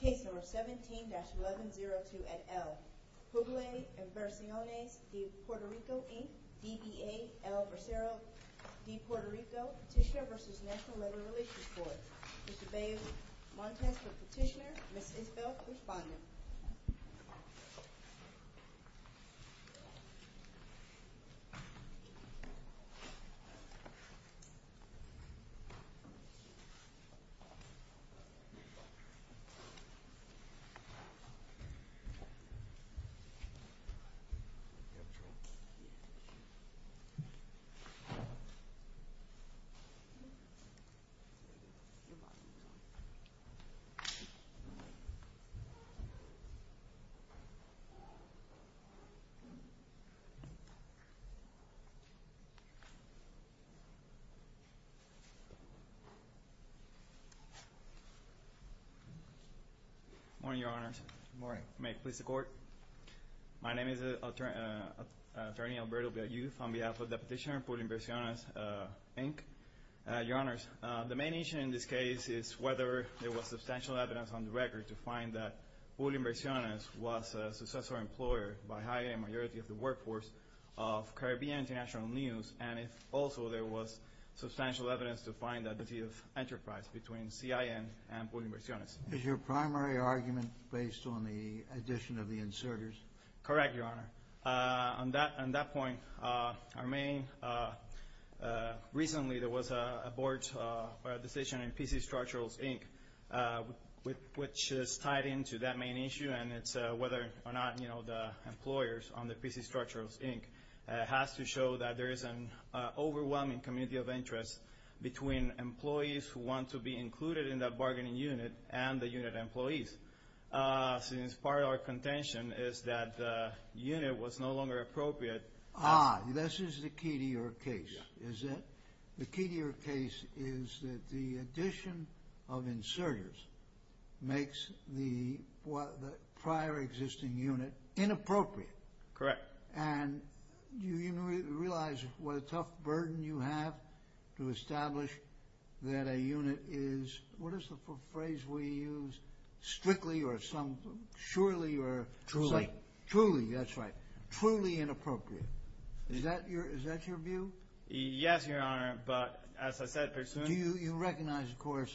Case number 17-1102 at L. Puglia-Inversiones de Puerto Rico, Inc. DBA, El Bracero de Puerto Rico, Petitioner v. National Labor Relations Court. Mr. Bayles, Montesquieu, Petitioner. Ms. Isbel, Respondent. Thank you, Mr. President. Good morning, Your Honors. Good morning. May it please the Court. My name is Attorney Alberto Bayles, on behalf of the Petitioner, Puglia-Inversiones, Inc. Your Honors, the main issue in this case is whether there was substantial evidence on the record to find that Puglia-Inversiones was a successor employer by a higher majority of the workforce of Caribbean International News, and if also there was substantial evidence to find that there was enterprise between CIN and Puglia-Inversiones. Is your primary argument based on the addition of the inserters? Correct, Your Honor. On that point, our main – recently there was a board decision in PC Structurals, Inc., which is tied into that main issue, and it's whether or not, you know, the employers on the PC Structurals, Inc. has to show that there is an overwhelming community of interest between employees who want to be included in that bargaining unit and the unit employees. Since part of our contention is that the unit was no longer appropriate. Ah, this is the key to your case, is it? The key to your case is that the addition of inserters makes the prior existing unit inappropriate. Correct. And do you realize what a tough burden you have to establish that a unit is – quickly or some – surely or – Truly. Truly, that's right. Truly inappropriate. Is that your view? Yes, Your Honor, but as I said – Do you recognize, of course,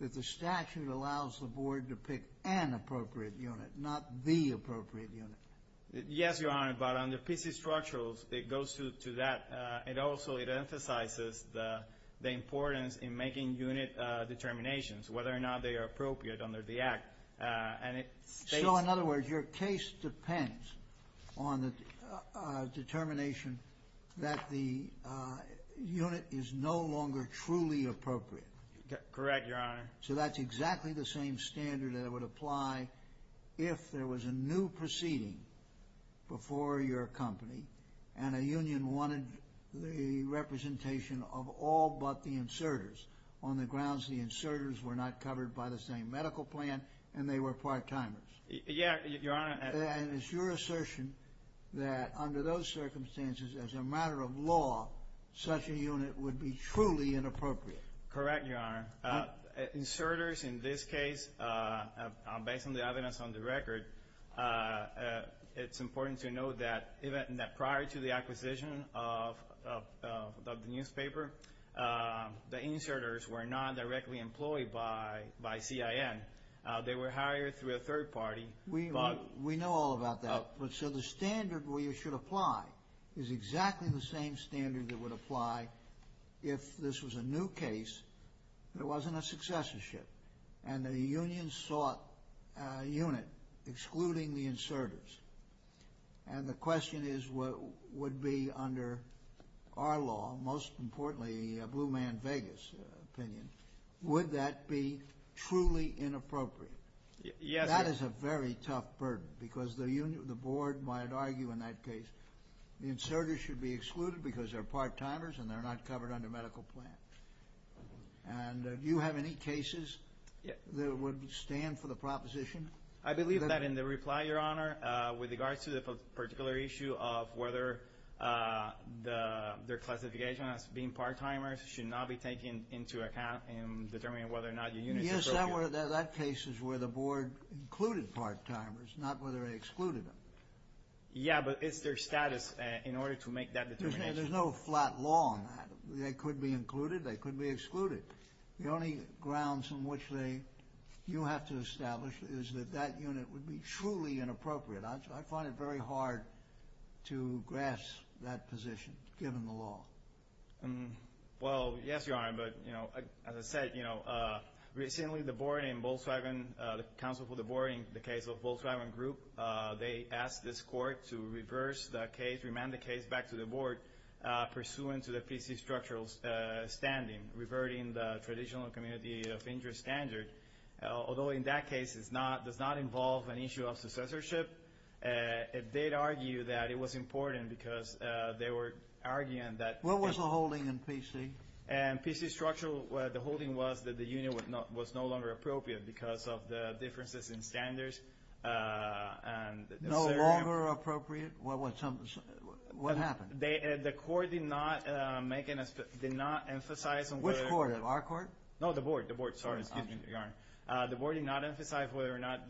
that the statute allows the board to pick an appropriate unit, not the appropriate unit? Yes, Your Honor, but on the PC Structurals, it goes to that. It also emphasizes the importance in making unit determinations, whether or not they are appropriate under the Act. So, in other words, your case depends on the determination that the unit is no longer truly appropriate. Correct, Your Honor. So that's exactly the same standard that would apply if there was a new proceeding before your company and a union wanted the representation of all but the inserters on the grounds the inserters were not covered by the same medical plan and they were part-timers. Yes, Your Honor. And it's your assertion that under those circumstances, as a matter of law, such a unit would be truly inappropriate. Correct, Your Honor. Inserters in this case, based on the evidence on the record, it's important to note that prior to the acquisition of the newspaper, the inserters were not directly employed by CIN. They were hired through a third party. We know all about that. So the standard where you should apply is exactly the same standard that would apply if this was a new case, there wasn't a successorship, and the union sought a unit excluding the inserters. And the question is what would be under our law, most importantly, Blue Man Vegas opinion, would that be truly inappropriate? Yes, Your Honor. That is a very tough burden because the board might argue in that case the inserters should be excluded because they're part-timers and they're not covered under medical plan. And do you have any cases that would stand for the proposition? I believe that in the reply, Your Honor, with regards to the particular issue of whether their classification as being part-timers should not be taken into account in determining whether or not the unit is appropriate. Yes, that case is where the board included part-timers, not whether they excluded them. Yes, but it's their status in order to make that determination. There's no flat law on that. They could be included. They could be excluded. The only grounds on which you have to establish is that that unit would be truly inappropriate. I find it very hard to grasp that position given the law. Well, yes, Your Honor, but as I said, recently the board in Volkswagen, the counsel for the board in the case of Volkswagen Group, they asked this court to reverse the case, remand the case back to the board pursuant to the PC structural standing, reverting the traditional community of interest standard. Although in that case it does not involve an issue of successorship, it did argue that it was important because they were arguing that. What was the holding in PC? And PC structural, the holding was that the unit was no longer appropriate because of the differences in standards. No longer appropriate? What happened? The court did not emphasize on whether or not. Which court? Our court? No, the board. The board, sorry. Excuse me, Your Honor. The board did not emphasize whether or not,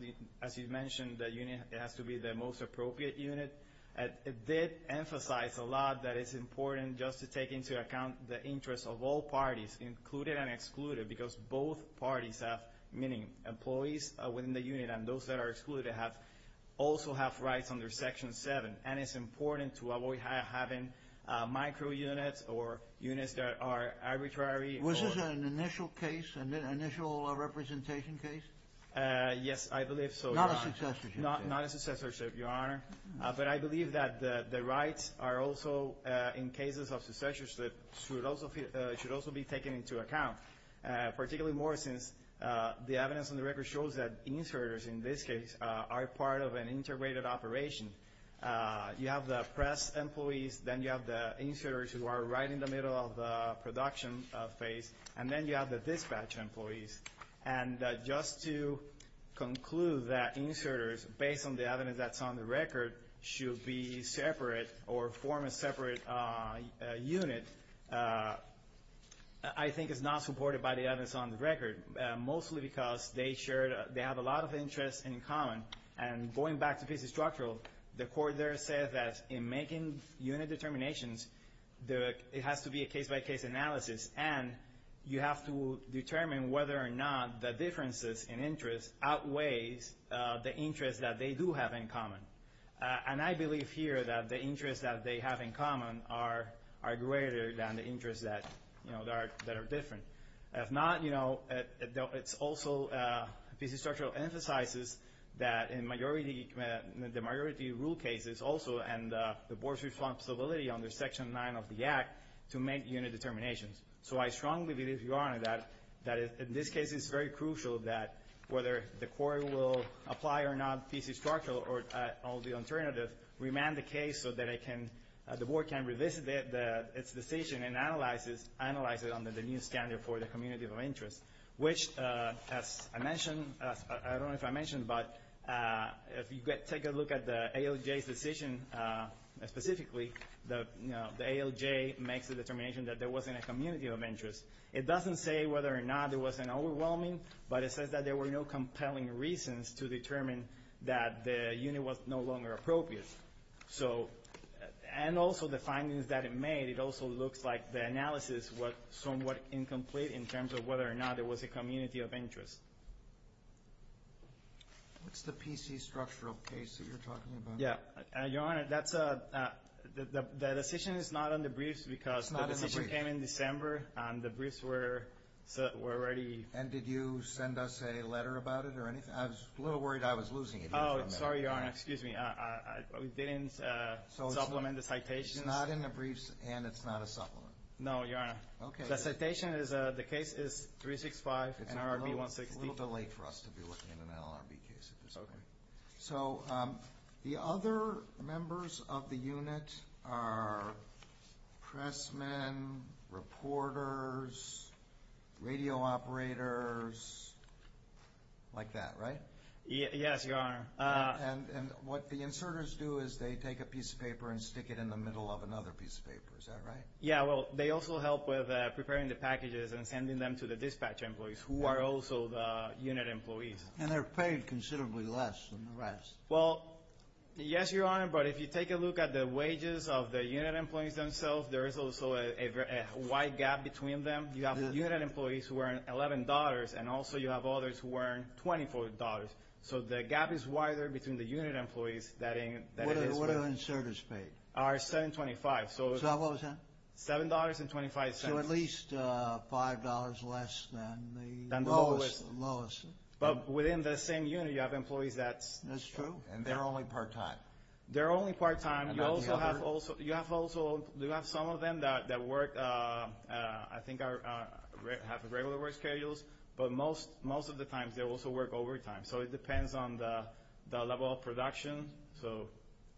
as you mentioned, the unit has to be the most appropriate unit. It did emphasize a lot that it's important just to take into account the interest of all parties, included and excluded, because both parties have many employees within the unit, and those that are excluded also have rights under Section 7, and it's important to avoid having micro-units or units that are arbitrary. Was this an initial case, an initial representation case? Yes, I believe so, Your Honor. Not a successorship. But I believe that the rights are also, in cases of successorship, should also be taken into account, particularly more since the evidence on the record shows that inserters, in this case, are part of an integrated operation. You have the press employees, then you have the inserters who are right in the middle of the production phase, and then you have the dispatch employees. And just to conclude that inserters, based on the evidence that's on the record, should be separate or form a separate unit, I think is not supported by the evidence on the record, mostly because they have a lot of interests in common. And going back to piece of structural, the Court there said that in making unit determinations, it has to be a case-by-case analysis, and you have to determine whether or not the differences in interest outweighs the interests that they do have in common. And I believe here that the interests that they have in common are greater than the interests that are different. If not, you know, it's also piece of structural, emphasizes that in the majority rule cases also, and the Board's responsibility under Section 9 of the Act to make unit determinations. So I strongly believe, Your Honor, that in this case, it's very crucial that whether the Court will apply or not piece of structural or the alternative, remand the case so that the Board can revisit its decision and analyze it under the new standard for the community of interest, which, as I mentioned, I don't know if I mentioned, but if you take a look at the ALJ's decision specifically, the ALJ makes the determination that there wasn't a community of interest. It doesn't say whether or not there was an overwhelming, but it says that there were no compelling reasons to determine that the unit was no longer appropriate. And also the findings that it made, it also looks like the analysis was somewhat incomplete in terms of whether or not there was a community of interest. What's the piece of structural case that you're talking about? Yeah, Your Honor, the decision is not on the briefs because the decision came in December and the briefs were already... And did you send us a letter about it or anything? I was a little worried I was losing it here for a minute. Oh, sorry, Your Honor, excuse me. We didn't supplement the citations. So it's not in the briefs and it's not a supplement? No, Your Honor. Okay. The citation is the case is 365 and RRB 160. It's a little bit late for us to be looking at an LRB case at this point. Okay. So the other members of the unit are pressmen, reporters, radio operators, like that, right? Yes, Your Honor. And what the inserters do is they take a piece of paper and stick it in the middle of another piece of paper. Is that right? Yeah, well, they also help with preparing the packages and sending them to the dispatch employees, who are also the unit employees. And they're paid considerably less than the rest. Well, yes, Your Honor, but if you take a look at the wages of the unit employees themselves, there is also a wide gap between them. You have unit employees who earn $11, and also you have others who earn $24. So the gap is wider between the unit employees than it is. What are the inserters paid? $7.25. So what was that? $7.25. So at least $5 less than the lowest. But within the same unit, you have employees that... That's true, and they're only part-time. They're only part-time. You also have some of them that work, I think, have regular work schedules, but most of the time they also work overtime. So it depends on the level of production.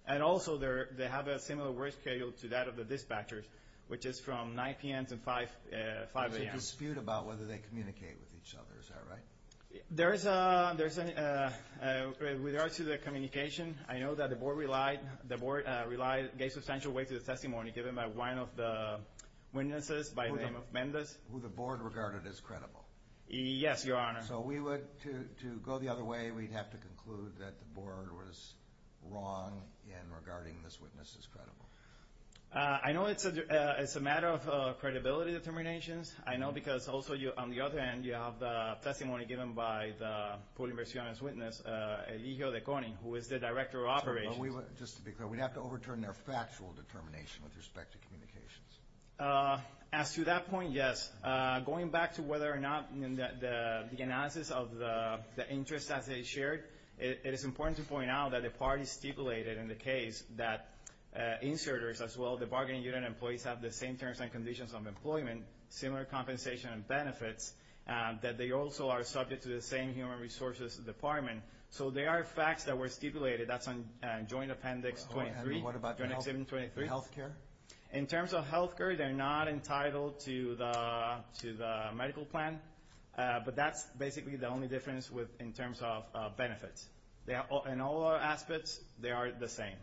And also they have a similar work schedule to that of the dispatchers, which is from 9 p.m. to 5 a.m. There's a dispute about whether they communicate with each other. Is that right? There is. With regards to the communication, I know that the board gave substantial weight to the testimony given by one of the witnesses by the name of Mendez. Who the board regarded as credible. Yes, Your Honor. So to go the other way, we'd have to conclude that the board was wrong in regarding this witness as credible. I know it's a matter of credibility determinations. I know because also on the other hand, you have the testimony given by the Paul Inversiones witness, Eligio Deconin, who is the director of operations. Just to be clear, we'd have to overturn their factual determination with respect to communications. As to that point, yes. Going back to whether or not the analysis of the interests as they shared, it is important to point out that the parties stipulated in the case that inserters as well as the bargaining unit employees have the same terms and conditions of employment, similar compensation and benefits, that they also are subject to the same human resources department. So there are facts that were stipulated. That's on Joint Appendix 23. What about health care? In terms of health care, they're not entitled to the medical plan. But that's basically the only difference in terms of benefits. In all aspects, they are the same.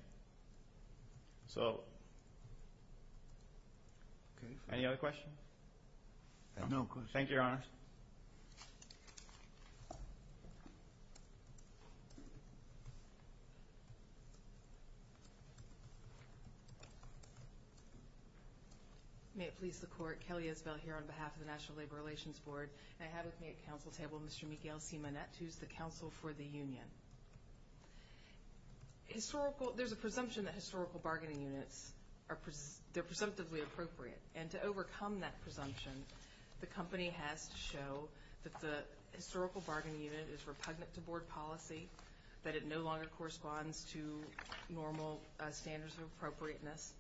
So any other questions? No questions. Thank you, Your Honor. May it please the Court. Kelly Isbell here on behalf of the National Labor Relations Board. I have with me at council table Mr. Miguel Simonet, who is the counsel for the union. There's a presumption that historical bargaining units, they're presumptively appropriate. And to overcome that presumption, the company has to show that the historical bargaining unit is repugnant to board policy, that it no longer corresponds to normal standards of appropriateness,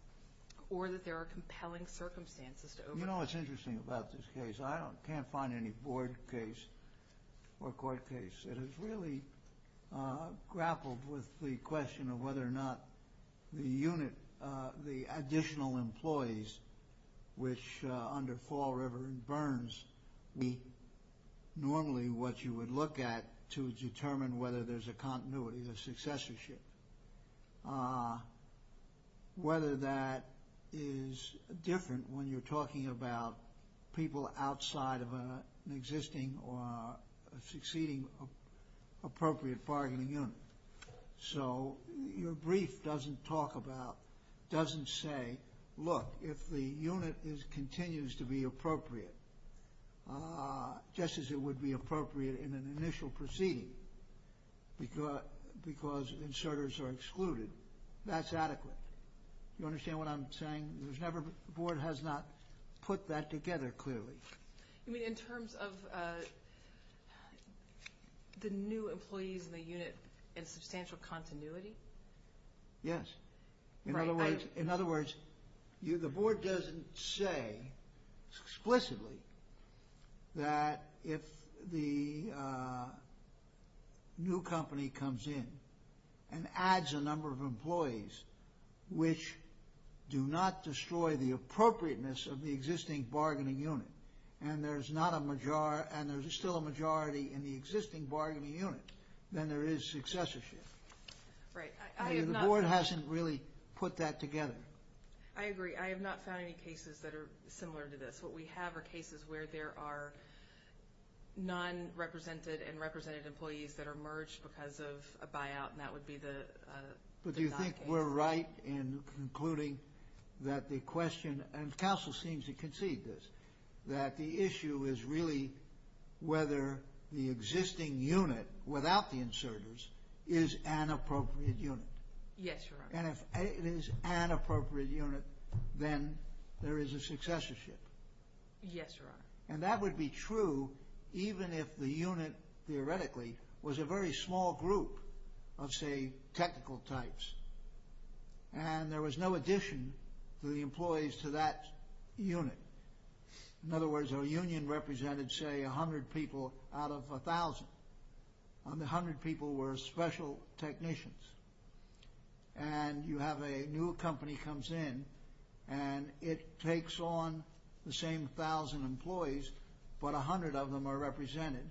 or that there are compelling circumstances to overcome. You know what's interesting about this case? I can't find any board case or court case that has really grappled with the question of whether or not the unit, the additional employees, which under Fall, River, and Burns, would be normally what you would look at to determine whether there's a continuity, a successorship, whether that is different when you're talking about people outside of an existing or succeeding appropriate bargaining unit. So your brief doesn't talk about, doesn't say, look, if the unit continues to be appropriate, just as it would be appropriate in an initial proceeding, because inserters are excluded, that's adequate. You understand what I'm saying? The board has not put that together clearly. You mean in terms of the new employees in the unit in substantial continuity? Yes. In other words, the board doesn't say explicitly that if the new company comes in and adds a number of employees which do not destroy the appropriateness of the existing bargaining unit and there's still a majority in the existing bargaining unit, then there is successorship. Right. The board hasn't really put that together. I agree. I have not found any cases that are similar to this. What we have are cases where there are non-represented and represented employees that are merged because of a buyout, and that would be the non-case. But do you think we're right in concluding that the question, and counsel seems to concede this, that the issue is really whether the existing unit without the inserters is an appropriate unit. Yes, Your Honor. And if it is an appropriate unit, then there is a successorship. Yes, Your Honor. And that would be true even if the unit, theoretically, was a very small group of, say, technical types. And there was no addition to the employees to that unit. In other words, our union represented, say, 100 people out of 1,000. And the 100 people were special technicians. And you have a new company comes in, and it takes on the same 1,000 employees, but 100 of them are represented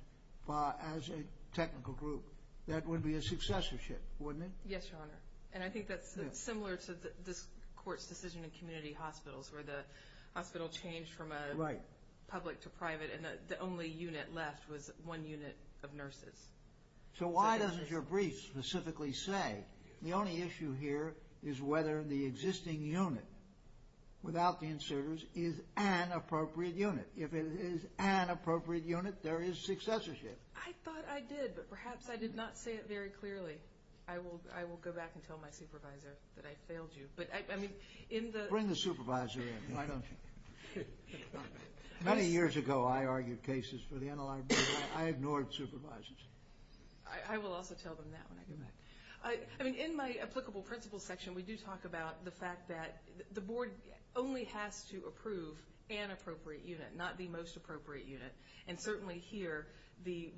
as a technical group. That would be a successorship, wouldn't it? Yes, Your Honor. And I think that's similar to this court's decision in community hospitals where the hospital changed from a public to private, and the only unit left was one unit of nurses. So why doesn't your brief specifically say the only issue here is whether the existing unit without the inserters is an appropriate unit? If it is an appropriate unit, there is successorship. I thought I did, but perhaps I did not say it very clearly. I will go back and tell my supervisor that I failed you. Bring the supervisor in. Why don't you? Many years ago, I argued cases for the NLRB, but I ignored supervisors. I will also tell them that when I get back. In my applicable principles section, we do talk about the fact that the board only has to approve an appropriate unit, not the most appropriate unit. And certainly here, the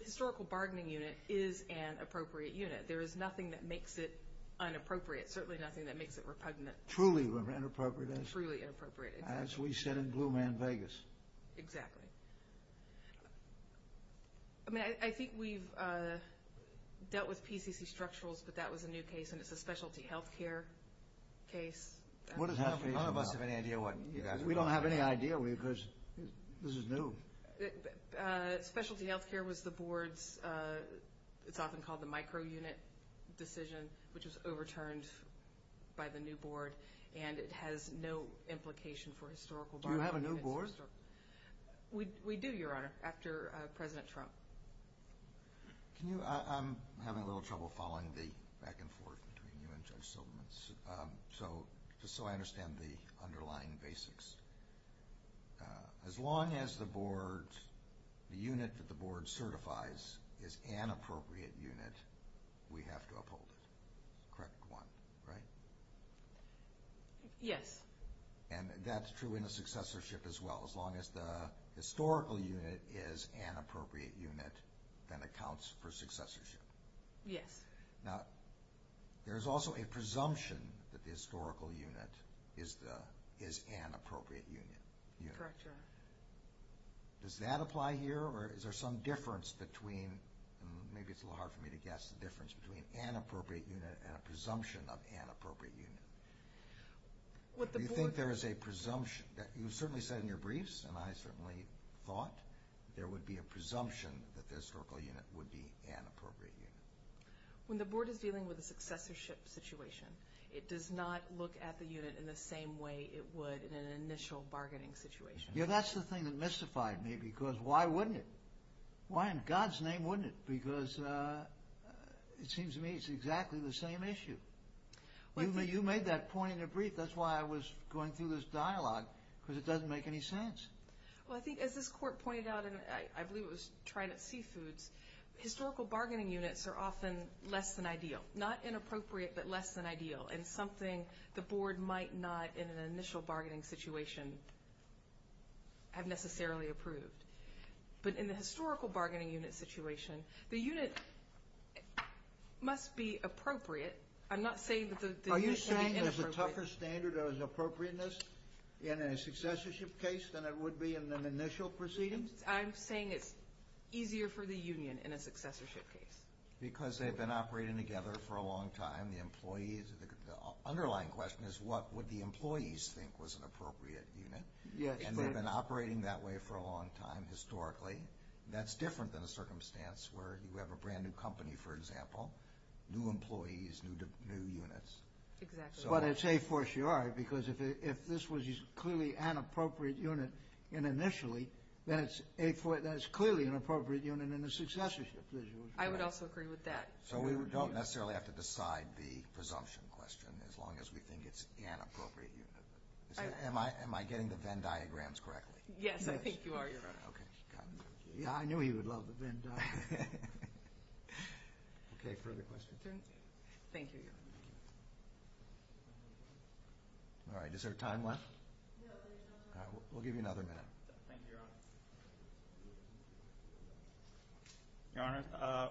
historical bargaining unit is an appropriate unit. There is nothing that makes it inappropriate, certainly nothing that makes it repugnant. Truly inappropriate, as we said in Blue Man Vegas. Exactly. I mean, I think we've dealt with PCC Structurals, but that was a new case, and it's a specialty health care case. None of us have any idea what you guys are talking about. We don't have any idea because this is new. Specialty health care was the board's, it's often called the micro-unit decision, which was overturned by the new board, and it has no implication for historical bargaining. Do you have a new board? We do, Your Honor, after President Trump. Can you, I'm having a little trouble following the back and forth between you and Judge Silverman, just so I understand the underlying basics. As long as the board, the unit that the board certifies is an appropriate unit, we have to uphold it. Correct one, right? Yes. And that's true in a successorship as well. As long as the historical unit is an appropriate unit, then it counts for successorship. Yes. Now, there's also a presumption that the historical unit is an appropriate unit. Correct, Your Honor. Does that apply here, or is there some difference between, maybe it's a little hard for me to guess, the difference between an appropriate unit and a presumption of an appropriate unit? Do you think there is a presumption? You certainly said in your briefs, and I certainly thought, there would be a presumption that the historical unit would be an appropriate unit. When the board is dealing with a successorship situation, it does not look at the unit in the same way it would in an initial bargaining situation. Yeah, that's the thing that mystified me, because why wouldn't it? Why in God's name wouldn't it? Because it seems to me it's exactly the same issue. You made that point in your brief. That's why I was going through this dialogue, because it doesn't make any sense. Well, I think as this Court pointed out, and I believe it was trying at Seafoods, historical bargaining units are often less than ideal. Not inappropriate, but less than ideal, and something the board might not in an initial bargaining situation have necessarily approved. But in the historical bargaining unit situation, the unit must be appropriate. I'm not saying that the unit is inappropriate. Are you saying there's a tougher standard of appropriateness in a successorship case than it would be in an initial proceeding? I'm saying it's easier for the union in a successorship case. Because they've been operating together for a long time, the employees. The underlying question is what would the employees think was an appropriate unit? Yes. And they've been operating that way for a long time historically. That's different than a circumstance where you have a brand-new company, for example, new employees, new units. Exactly. But it's a fortiori, because if this was clearly an appropriate unit initially, then it's clearly an appropriate unit in a successorship. I would also agree with that. So we don't necessarily have to decide the presumption question as long as we think it's an appropriate unit. Am I getting the Venn diagrams correctly? Yes, I think you are, Your Honor. Okay. I knew he would love the Venn diagrams. Okay, further questions? Thank you, Your Honor. We'll give you another minute. Thank you, Your Honor. Your Honor,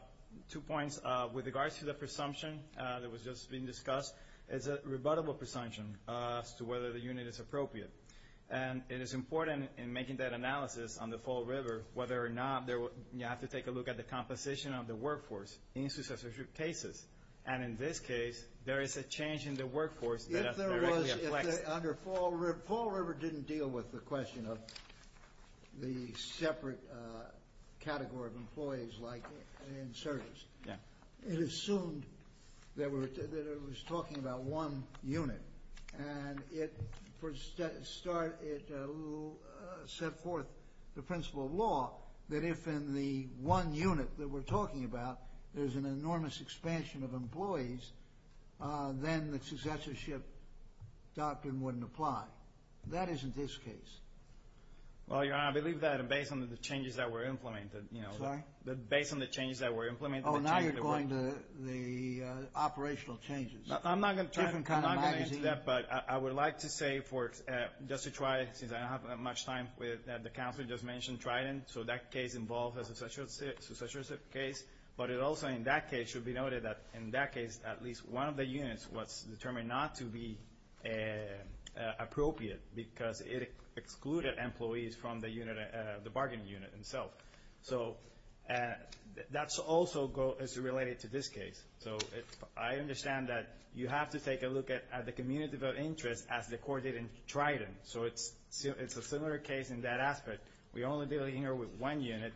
two points. With regards to the presumption that was just being discussed, it's a rebuttable presumption as to whether the unit is appropriate. And it is important in making that analysis on the Fall River whether or not you have to take a look at the composition of the workforce in successorship cases. And in this case, there is a change in the workforce that is directly affected. Fall River didn't deal with the question of the separate category of employees like in service. It assumed that it was talking about one unit. And it set forth the principle of law that if in the one unit that we're talking about, there's an enormous expansion of employees, then the successorship doctrine wouldn't apply. That isn't this case. Well, Your Honor, I believe that based on the changes that were implemented. Sorry? Based on the changes that were implemented. Oh, now you're going to the operational changes. I'm not going to try to comment on that, but I would like to say just to try, since I don't have much time, that the counsel just mentioned Trident. So that case involves a successorship case. But also in that case, it should be noted that in that case, at least one of the units was determined not to be appropriate because it excluded employees from the bargaining unit itself. So that's also related to this case. So I understand that you have to take a look at the community of interest as the court did in Trident. So it's a similar case in that aspect. We only deal here with one unit.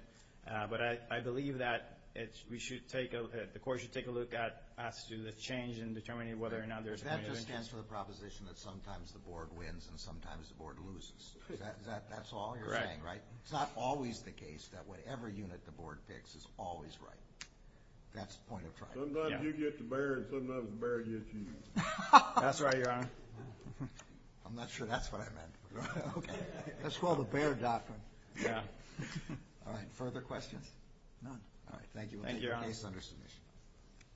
But I believe that the court should take a look at the change in determining whether or not there's a community of interest. That just stands for the proposition that sometimes the board wins and sometimes the board loses. That's all you're saying, right? Correct. It's not always the case that whatever unit the board picks is always right. That's the point of Trident. Sometimes you get the bear and sometimes the bear gets you. That's right, Your Honor. I'm not sure that's what I meant. Okay. That's called the bear doctrine. Yeah. All right. Further questions? All right. Thank you. Thank you, Your Honor. Case under submission.